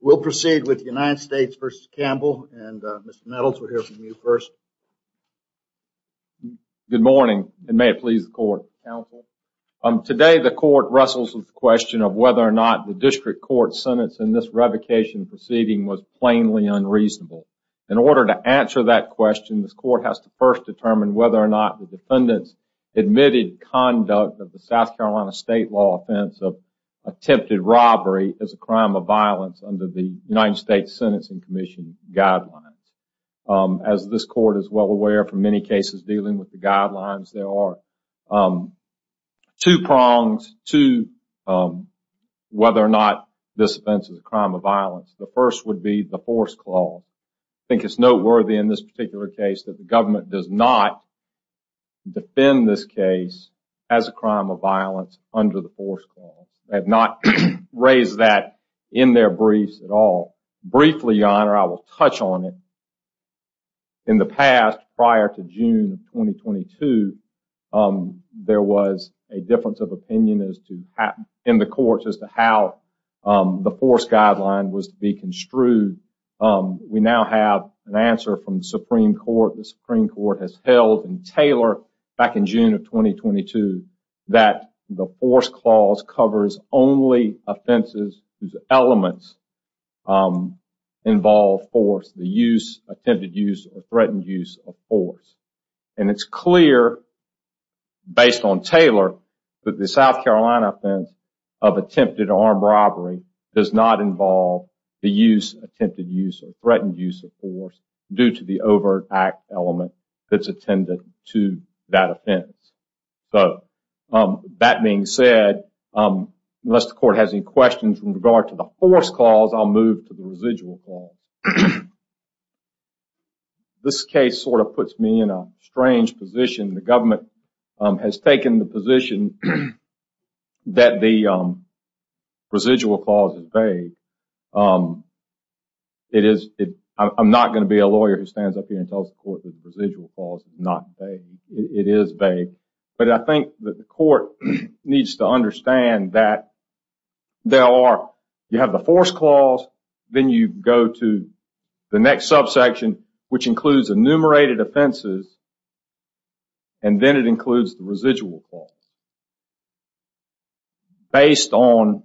We'll proceed with the United States v. Campbell. Mr. Nettles, we'll hear from you first. Good morning, and may it please the Court, Mr. Campbell. Today, the Court wrestles with the question of whether or not the District Court's sentence in this revocation proceeding was plainly unreasonable. In order to answer that question, the Court has to first determine whether or not the defendant's admitted conduct of the South Carolina state law offense of attempted robbery is a crime of violence under the United States Sentencing Commission guidelines. As this Court is well aware, for many cases dealing with the guidelines, there are two prongs to whether or not this offense is a crime of violence. The first would be the force clause. I think it's noteworthy in this particular case that the government does not defend this case as a crime of violence under the force clause. They have not raised that in their briefs at all. Briefly, Your Honor, I will touch on it. In the past, prior to June of 2022, there was a difference of opinion in the courts as to how the force guideline was to be construed. We now have an answer from the Supreme Court. The Supreme Court ruled back in June of 2022 that the force clause covers only offenses whose elements involve force, the use, attempted use, or threatened use of force. It's clear, based on Taylor, that the South Carolina offense of attempted armed robbery does not involve the use, attempted use, or threatened use of force due to the overt act element that's attended to that offense. That being said, unless the court has any questions in regard to the force clause, I'll move to the residual clause. This case sort of puts me in a strange position. The government has taken the position that the residual clause is vague. I'm not going to be a lawyer who stands up here and tells the court that the residual clause is not vague. It is vague. But I think that the court needs to understand that you have the force clause, then you go to the next subsection, which includes enumerated offenses, and then it includes the residual clause. Based on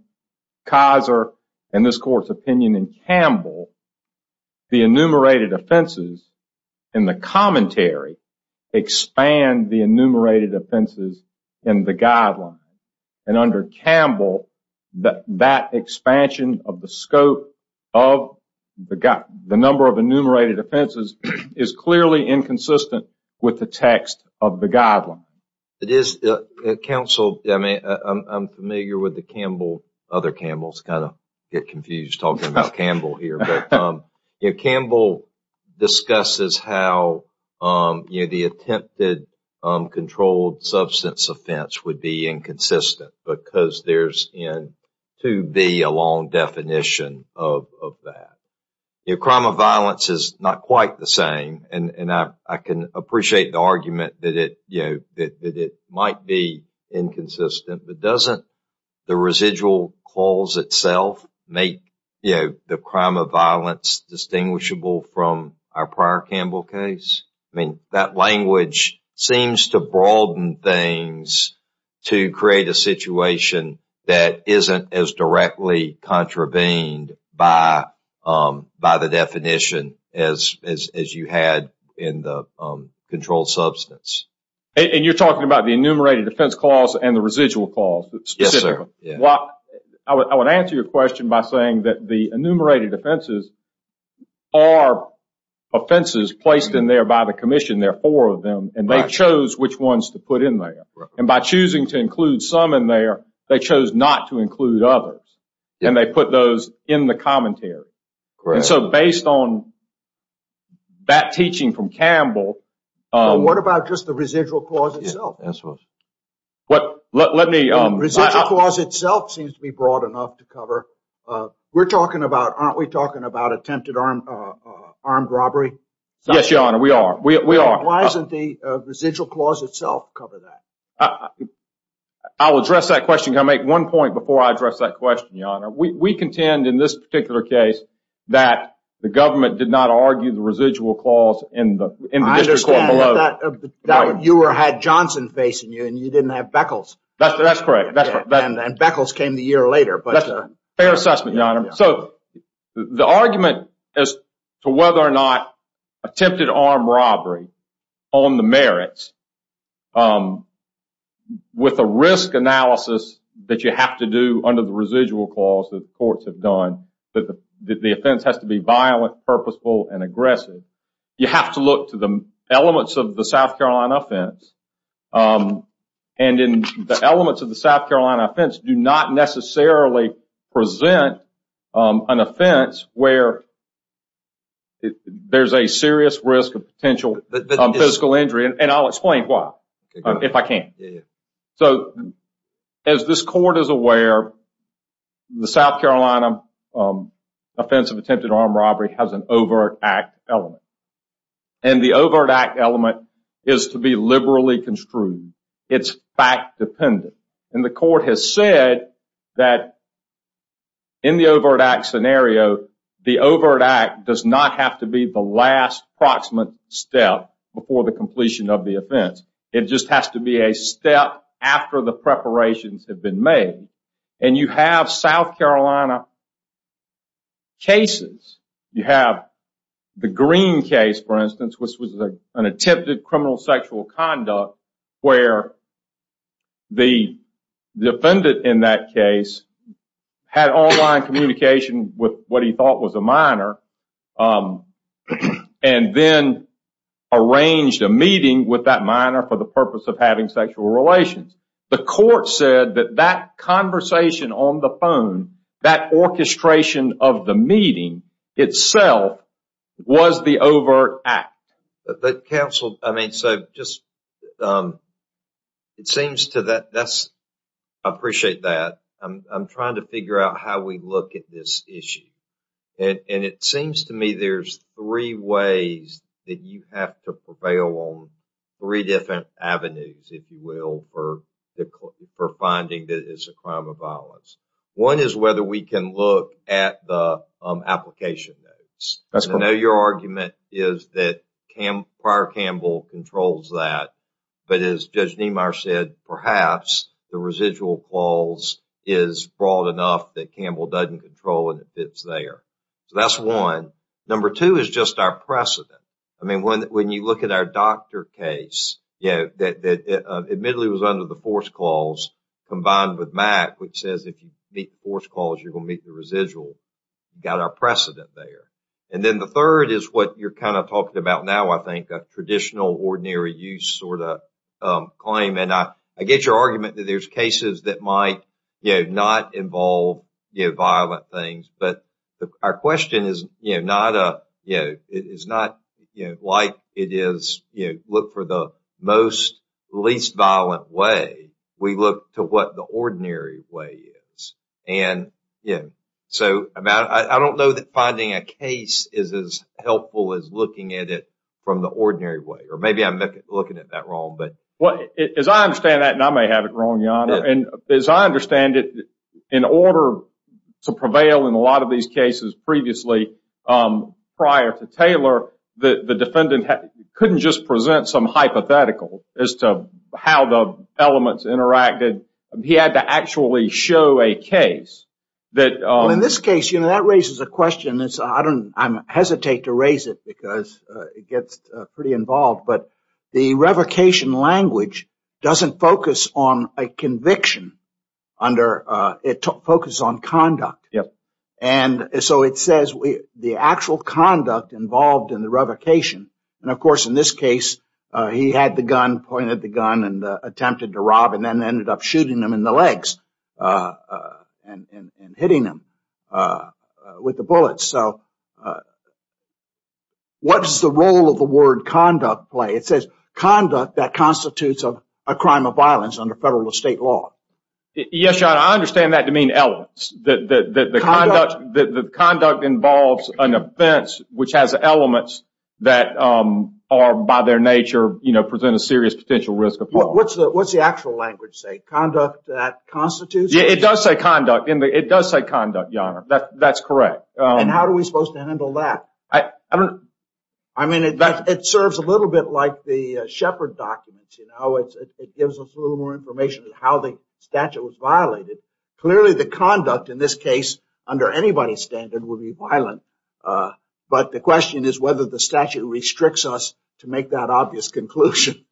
Kaiser and this court's opinion in Campbell, the enumerated offenses in the commentary expand the enumerated offenses in the guidelines. Under Campbell, that expansion of the scope of the number of enumerated offenses is clearly inconsistent with the text of the guideline. Counsel, I'm familiar with other Campbells. I kind of get confused talking about Campbell here. Campbell discusses how the attempted controlled substance offense would be inconsistent because there's to be a long definition of that. Crime of violence is not quite the same, and I can appreciate the argument that it might be inconsistent, but doesn't the residual clause itself make the crime of violence distinguishable from our prior Campbell case? I mean, that language seems to broaden things to create a situation that isn't as directly contravened by the definition as you had in the controlled substance. And you're talking about the enumerated defense clause and the residual clause? Yes, sir. I would answer your question by saying that the enumerated offenses are offenses placed in there by the commission. There are four of them, and they chose which ones to put in there. And by choosing to include some in there, they chose not to include others, and they put those in the commentary. And so based on that teaching from Campbell... What about just the residual clause itself? Let me... Residual clause itself seems to be broad enough to cover. We're talking about... Aren't we talking about attempted armed robbery? Yes, your honor. We are. We are. Why doesn't the residual clause itself cover that? I'll address that question. Can I make one point before I address that question, your honor? We contend in this particular case that the government did not argue the residual clause in the district court below. I understand that you had Johnson facing you and you didn't have Beckles. That's correct. And Beckles came the year later. Fair assessment, your honor. So the argument as to whether or not attempted armed robbery on the merits with a risk analysis that you have to do under the residual clause that courts have done, that the offense has to be violent, purposeful, and aggressive, you have to look to the elements of the South Carolina offense. And in the elements of the South Carolina offense do not necessarily present an offense where there's a serious risk of potential physical injury. And I'll explain why if I can. So as this court is aware, the South Carolina offense of attempted armed robbery has an overt act element. And the overt act element is to be liberally construed. It's fact dependent. And the court has said that in the overt act scenario, the overt act does not have to be the last proximate step before the completion of the offense. It just has to be a step after the preparations have been made. And you have South Carolina law cases. You have the Green case, for instance, which was an attempted criminal sexual conduct where the defendant in that case had online communication with what he thought was a minor and then arranged a meeting with that minor for the purpose of having sexual relations. The court said that that conversation on the phone, that orchestration of the meeting itself was the overt act. But counsel, I mean, so just it seems to that that's I appreciate that. I'm trying to figure out how we look at this issue. And it seems to me there's three ways that you have to prevail on three different avenues, if you will, for finding that it's a crime of violence. One is whether we can look at the application notes. I know your argument is that prior Campbell controls that. But as Judge Niemeyer said, perhaps the residual clause is broad enough that Campbell doesn't control and it fits there. So that's one. Number two is just our precedent. I mean, when you look at our doctor case, you know, that admittedly was under the force clause combined with Mac, which says if you meet the force clause, you're going to meet the residual. Got our precedent there. And then the third is what you're kind of talking about now, I think, a traditional ordinary use sort of claim. And I get your argument that there's is not like it is. You look for the most least violent way. We look to what the ordinary way is. And so I don't know that finding a case is as helpful as looking at it from the ordinary way, or maybe I'm looking at that wrong. But as I understand that, and I may have it wrong, your Honor, and as I understand it, in order to prevail in a lot of these cases previously, prior to Taylor, the defendant couldn't just present some hypothetical as to how the elements interacted. He had to actually show a case that in this case, you know, that raises a question. It's I don't I hesitate to raise it because it gets pretty involved. But the revocation language doesn't focus on a conviction under it focus on conduct. And so it says the actual conduct involved in the revocation. And of course, in this case, he had the gun pointed the gun and attempted to rob and then ended up shooting him in the legs and hitting him with the bullets. So what does the role of the word conduct play? It says conduct that constitutes a crime of violence under federal or state law. Yes, your Honor, I understand that to mean elements. The conduct involves an offense which has elements that are by their nature, you know, present a serious potential risk of harm. What's the actual language say? Conduct that constitutes? It does say conduct, your Honor. That's correct. And how are we supposed to handle that? I mean, it serves a little bit like the Shepard documents, you know, it gives us a little more information on how the statute was violated. Clearly, the conduct in this case under anybody's standard would be violent. But the question is whether the statute restricts us to make that obvious conclusion.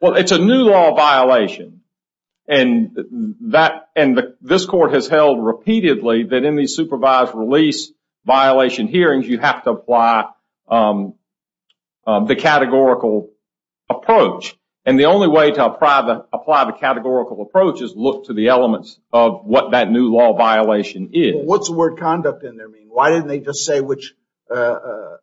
Well, it's a new law violation. And that and this court has held repeatedly that in the supervised release violation hearings, you have to apply the categorical approach. And the only way to apply the categorical approach is look to the elements of what that new law violation is. What's the word conduct in there mean? Why didn't they just say which... I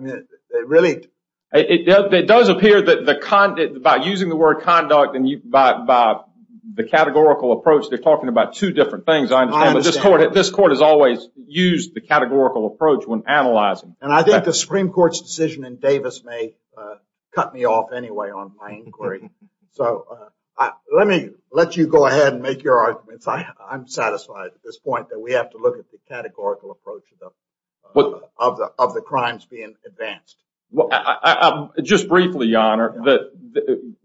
mean, it really... It does appear that by using the word conduct and by the categorical approach, they're talking about two different things. I understand that this court has always used the categorical approach when analyzing. And I think the Supreme Court's decision in Davis may cut me off anyway on my inquiry. So let me let you go ahead and make your arguments. I'm satisfied at this point that we have to look at the categorical approach of the crimes being advanced. Well, just briefly, Your Honor,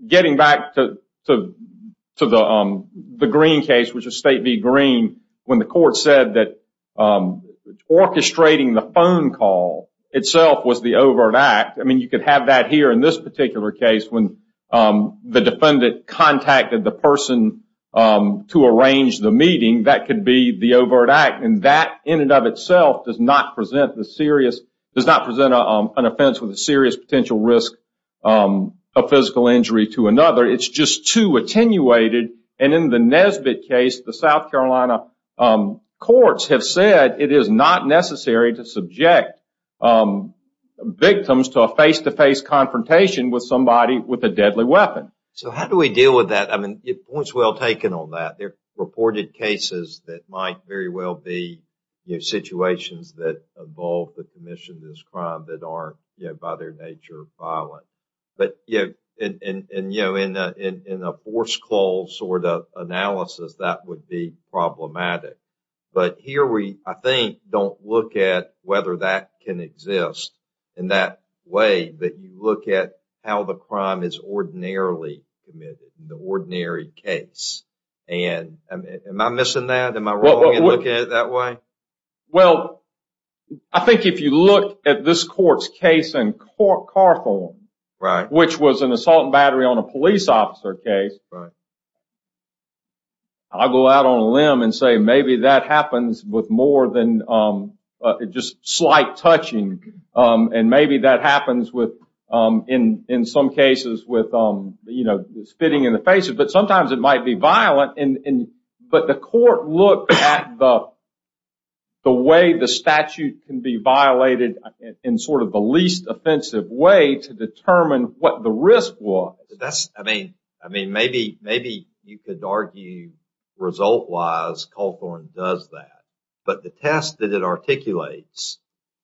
getting back to the Green case, which is State v. Green, when the court said that orchestrating the phone call itself was the overt act. I mean, you could have that here in this particular case when the defendant contacted the person to arrange the meeting. That could be the overt act. And that in and of itself does not present does not present an offense with a serious potential risk of physical injury to another. It's just too attenuated. And in the Nesbitt case, the South Carolina courts have said it is not necessary to subject victims to a face-to-face confrontation with somebody with a deadly weapon. So how do we deal with that? I mean, points well taken on that. There are reported cases that might very well be situations that involve the commission of this crime that are, you know, by their nature, violent. But, you know, in a forced close sort of analysis, that would be problematic. But here we, I think, don't look at whether that can exist in that way that you look at how the crime is ordinarily committed in the ordinary case. And am I missing that? Am I wrong in looking at it that way? Well, I think if you look at this court's case in Carthorne, which was an assault battery on a police officer case, I'll go out on a limb and say maybe that happens with more than just slight touching. And maybe that happens with, in some look at the way the statute can be violated in sort of the least offensive way to determine what the risk was. That's, I mean, maybe you could argue result-wise Carthorne does that. But the test that it articulates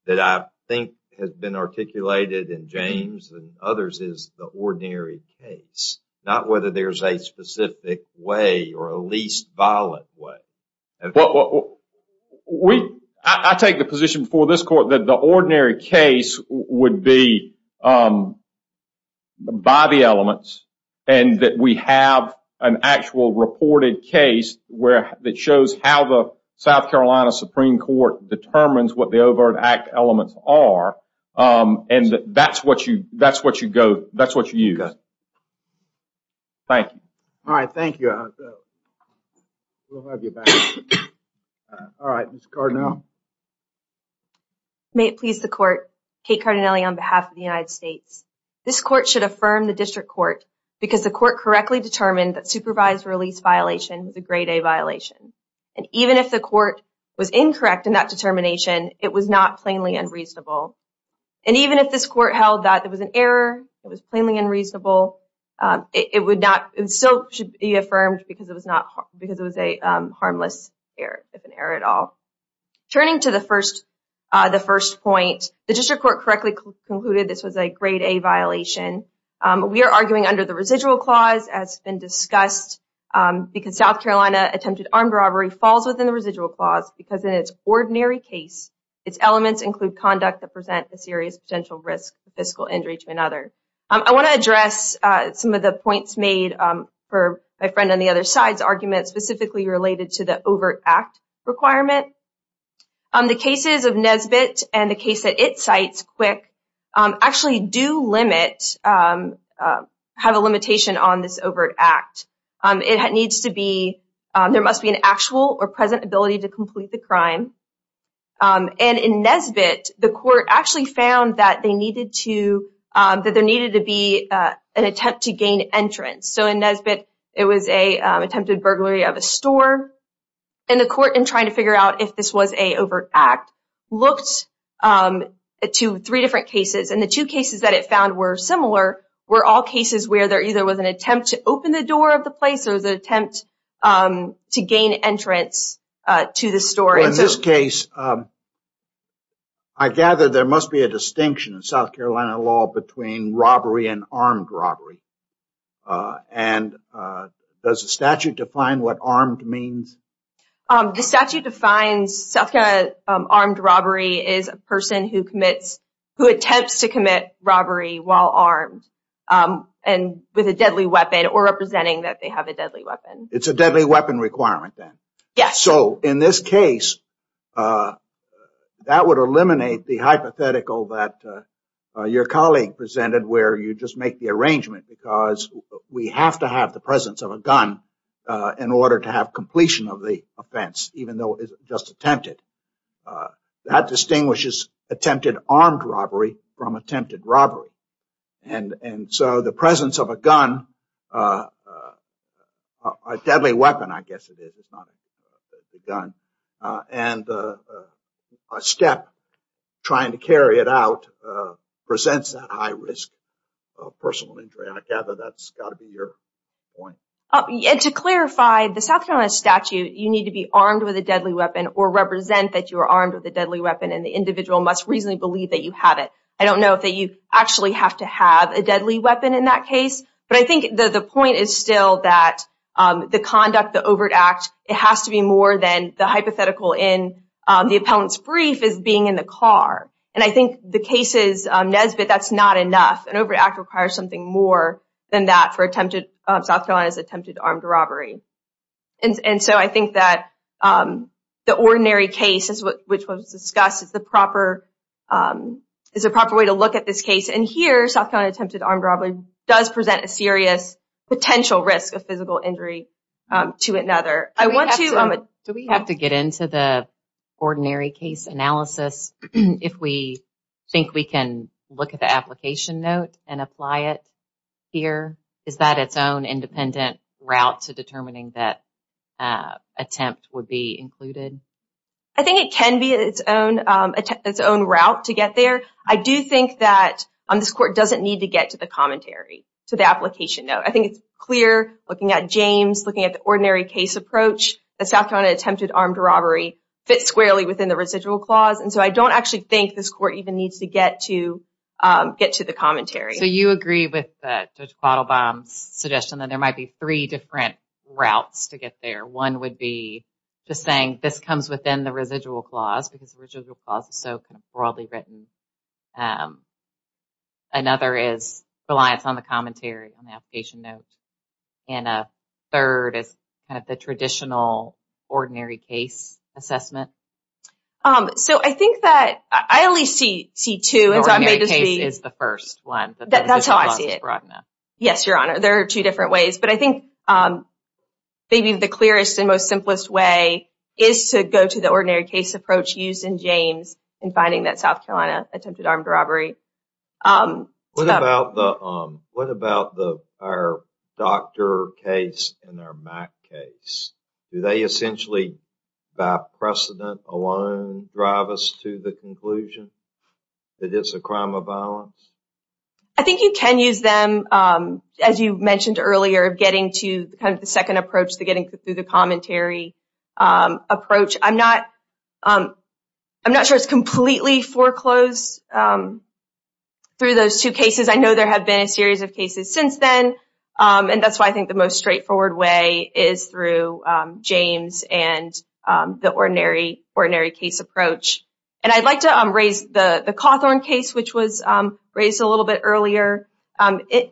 that I think has been articulated in James and others is the ordinary case, not whether there's a specific way or a least violent way. I take the position before this court that the ordinary case would be by the elements and that we have an actual reported case that shows how the South Carolina Supreme Court determines what the risk is. Thank you. All right, thank you. We'll have you back. All right, Ms. Cardinale. May it please the court, Kate Cardinale on behalf of the United States, this court should affirm the district court because the court correctly determined that supervised release violation was a grade A violation. And even if the court was incorrect in that determination, it was not unreasonable. It would not, it still should be affirmed because it was not, because it was a harmless error, if an error at all. Turning to the first, the first point, the district court correctly concluded this was a grade A violation. We are arguing under the residual clause as been discussed because South Carolina attempted armed robbery falls within the residual clause because in its ordinary case, its elements include conduct that present a serious potential risk of fiscal injury to another. I want to address some of the points made for my friend on the other side's argument specifically related to the overt act requirement. The cases of Nesbitt and the case that it cites, Quick, actually do limit, have a limitation on this overt act. It needs to be, there must be an actual or present ability to complete the crime. And in Nesbitt, the court actually found that they needed to, that there needed to be an attempt to gain entrance. So, in Nesbitt, it was an attempted burglary of a store. And the court, in trying to figure out if this was an overt act, looked to three different cases. And the two cases that it found were similar were all cases where there either was an attempt to open the door of the a distinction in South Carolina law between robbery and armed robbery. And does the statute define what armed means? The statute defines South Carolina armed robbery is a person who commits, who attempts to commit robbery while armed and with a deadly weapon or representing that they have a deadly weapon. It's a deadly weapon requirement then? Yes. So, in this case, that would eliminate the hypothetical that your colleague presented where you just make the arrangement because we have to have the presence of a gun in order to have completion of the offense, even though it's just attempted. That distinguishes attempted armed robbery from attempted robbery. And so, the presence of a gun, a deadly weapon, I guess it is, not a gun. And a step trying to carry it out presents a high risk of personal injury. I gather that's got to be your point. To clarify, the South Carolina statute, you need to be armed with a deadly weapon or represent that you are armed with a deadly weapon and the individual must reasonably believe that you have it. I don't know if you actually have to have a deadly weapon in that case, but I think the point is still that the conduct, the overt act, it has to be more than the hypothetical in the appellant's brief as being in the car. And I think the case is Nesbitt, that's not enough. An overt act requires something more than that for attempted, South Carolina's attempted armed robbery. And so, I think that the ordinary case, which was discussed, is the proper way to look at this case. And here, South Carolina attempted armed robbery does present a serious potential risk of physical injury to another. Do we have to get into the ordinary case analysis if we think we can look at the application note and apply it here? Is that its own independent route to determining that attempt would be included? I think it can be its own route to get there. I do think that this court doesn't need to get to the commentary, to the application note. I think it's clear, looking at James, looking at the ordinary case approach, that South Carolina attempted armed robbery fits squarely within the residual clause. And so, I don't actually think this court even needs to get to the commentary. So, you agree with Judge Quattlebaum's suggestion that there might be three different routes to get there. One would be just saying this comes within the residual clause because the residual clause is so kind of broadly written. Another is reliance on the commentary on the application note. And a third is kind of the traditional ordinary case assessment. So, I think that I at least see two. The ordinary case is the first one. That's how I see it. Yes, Your Honor. There are two different ways. But I think maybe the clearest and most simplest way is to go to the ordinary case approach used in James in finding that South Carolina attempted armed robbery. What about our Dr. case and our Mac case? Do they essentially, by precedent alone, drive us to the conclusion that it's a crime of violence? I think you can use them, as you mentioned earlier, of getting to kind of the second approach to getting through the commentary approach. I'm not sure it's completely foreclosed through those two cases. I know there have been a series of cases since then. And that's why I think the most straightforward way is through James and the ordinary case approach. And I'd like to raise the Cawthorn case, which was raised a little bit earlier.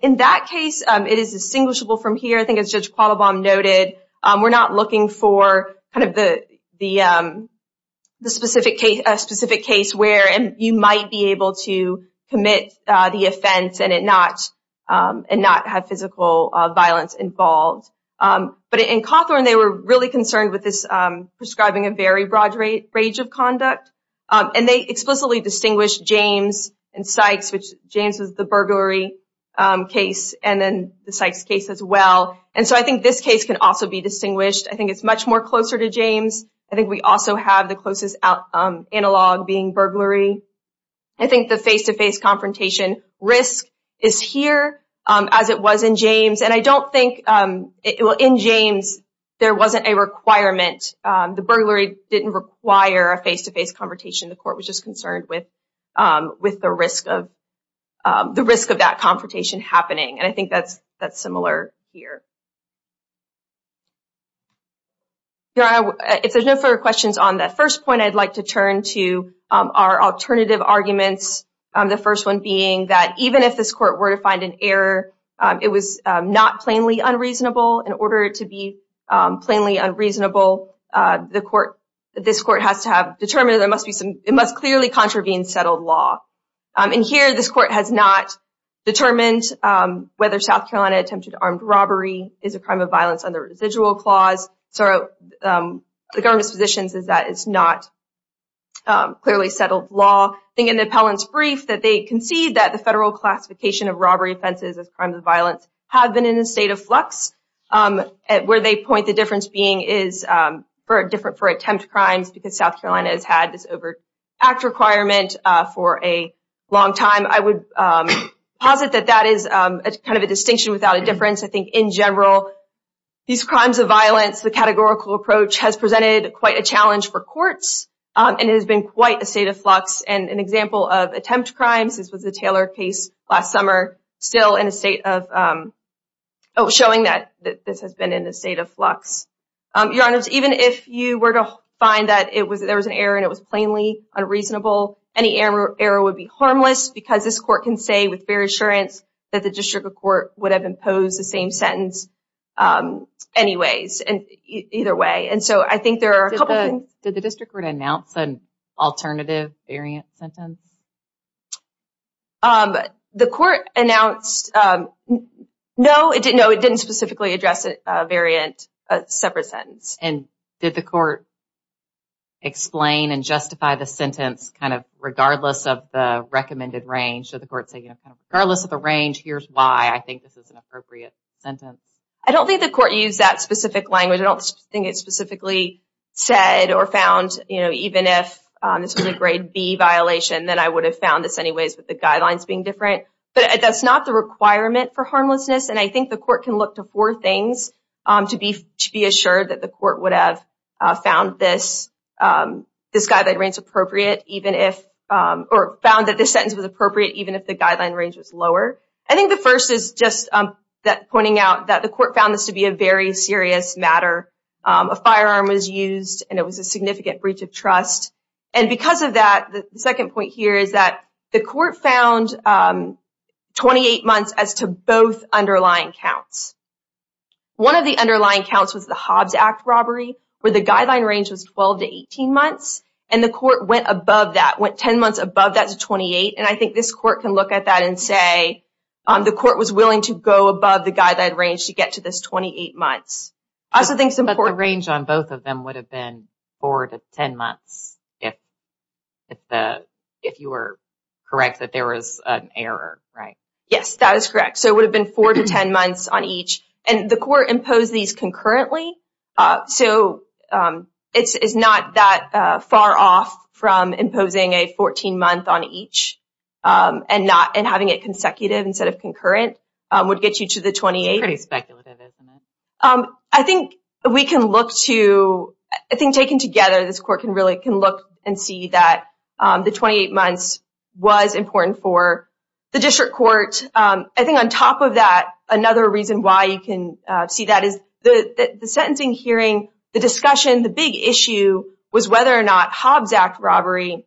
In that case, it is distinguishable from here. I think, as Judge Quattlebaum noted, we're not looking for kind of the specific case where you might be able to commit the offense and not have physical violence involved. But in Cawthorn, they were really concerned with prescribing a very broad range of conduct. And they explicitly distinguished James and Sykes, which James was the burglary case, and then the Sykes case as well. And so I think this case can also be distinguished. I think it's much more closer to James. I think we also have the closest analog being burglary. I think the face-to-face confrontation risk is here, as it was in James. And I don't think, well, in James, there wasn't a requirement. The burglary didn't require a face-to-face confrontation. The court was just concerned with the risk of that confrontation happening. And I think that's similar here. If there's no further questions on that first point, I'd like to turn to our alternative arguments, the first one being that even if this court were to find an error, it was not plainly unreasonable. In order to be plainly unreasonable, this court has to have determined, it must clearly contravene settled law. And here, this court has not determined whether South Carolina attempted armed robbery is a crime of violence under residual clause. So the government's position is that it's not clearly settled law. I think in the appellant's brief that they concede that the federal classification of robbery offenses as crimes of violence have been in a state of flux, where they point the difference being is for attempt crimes, because South Carolina has had this over-act requirement for a long time. I would posit that that is kind of a distinction without a difference. I think in general, these crimes of violence, the categorical approach has presented quite a challenge for courts, and it has been quite a state of flux. And an example of last summer, still in a state of showing that this has been in a state of flux. Your Honor, even if you were to find that there was an error and it was plainly unreasonable, any error would be harmless, because this court can say with fair assurance that the district of court would have imposed the same sentence anyways, either way. And so I think there are a couple of things. Did the district court announce an alternative variant sentence? The court announced, no, it didn't specifically address a variant, a separate sentence. And did the court explain and justify the sentence, kind of, regardless of the recommended range? Did the court say, you know, regardless of the range, here's why I think this is an appropriate sentence? I don't think the court used that specific language. I don't think it specifically said or found, you know, even if this was a grade B violation, then I would have found this anyways, with the guidelines being different. But that's not the requirement for harmlessness. And I think the court can look to four things to be assured that the court would have found this guideline range appropriate, even if, or found that this sentence was appropriate, even if the guideline range was lower. I think the first is just pointing out that the court found this to be a very serious matter. A firearm was used and it was a significant breach of trust. And because of that, the second point here is that the court found 28 months as to both underlying counts. One of the underlying counts was the Hobbs Act robbery, where the guideline range was 12 to 18 months. And the court went above that, went 10 months above that to 28. And I think this court can look at that and say, the court was willing to go above the guideline range to get to this 28 months. I also think some... But the range on both of them would have been four to 10 months if you were correct that there was an error, right? Yes, that is correct. So it would have been four to 10 months on each. And the court imposed these concurrently. So it's not that far off from imposing a 14 month on each and having it consecutive instead of concurrent would get you to the 28. It's pretty speculative, isn't it? I think we can look to... I think taken together, this court can really can look and see that the 28 months was important for the district court. I think on top of that, another reason why you can see that is the sentencing hearing, the discussion, the big issue was whether or not Hobbs Act robbery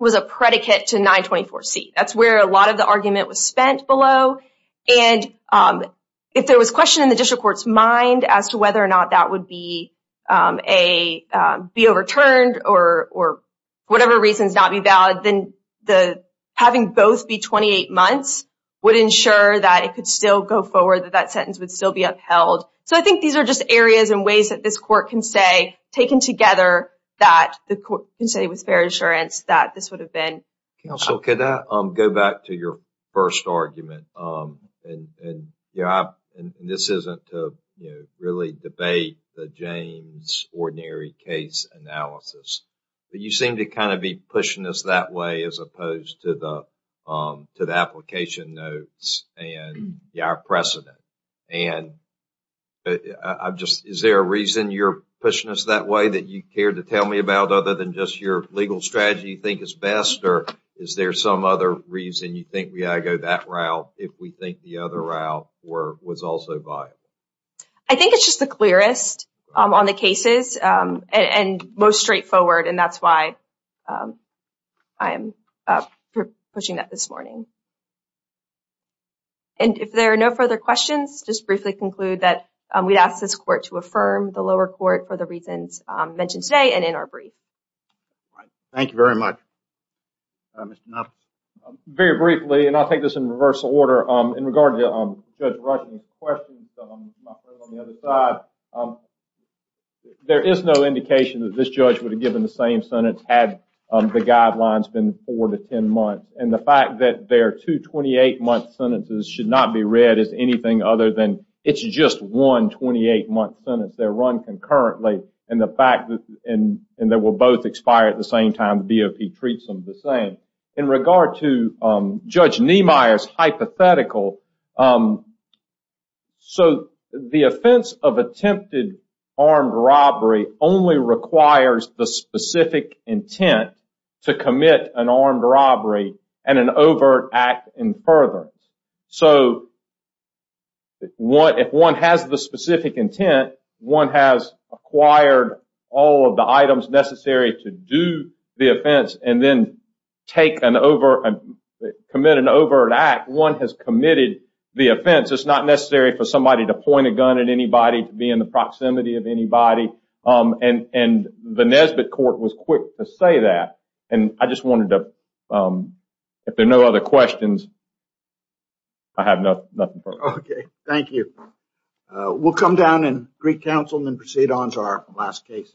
was a predicate to 924C. That's where a lot of the argument was spent below. And if there was a question in the district court's mind as to whether or not that would be overturned or whatever reasons not be valid, then having both be 28 months would ensure that it could still go forward, that that sentence would still be upheld. So I think these are just areas and ways that this court can say, taken together, that the court can say with fair assurance that this would have been... Counsel, could I go back to your first argument? And this isn't to really debate the James ordinary case analysis, but you seem to kind of be pushing us that way as opposed to the application notes and our precedent. And is there a reason you're pushing us that way that you care to tell me about other than just your legal strategy you think is best? Or is there some other reason you think we ought to go that route if we think the other route was also viable? I think it's just the clearest on the cases and most straightforward, and that's why I'm pushing that this morning. And if there are no further questions, just briefly conclude that we'd ask this court to affirm the lower court for the reasons mentioned today and in our brief. Thank you very much. Mr. Nuttall? Very briefly, and I'll take this in reversal order, in regard to Judge Ruskin's questions, there is no indication that this judge would have given the same sentence had the guidelines been four to 10 months. And the fact that they're two 28-month sentences should not be read as other than it's just one 28-month sentence. They're run concurrently, and they will both expire at the same time. The BOP treats them the same. In regard to Judge Niemeyer's hypothetical, so the offense of attempted armed robbery only requires the specific intent to commit an armed robbery. If one has the specific intent, one has acquired all of the items necessary to do the offense and then commit an overt act. One has committed the offense. It's not necessary for somebody to point a gun at anybody to be in the proximity of anybody. And the Nesbitt court was quick to say that. And I just wanted to, if there are no other questions, I have nothing. Thank you. We'll come down and greet counsel and then proceed on to our last case.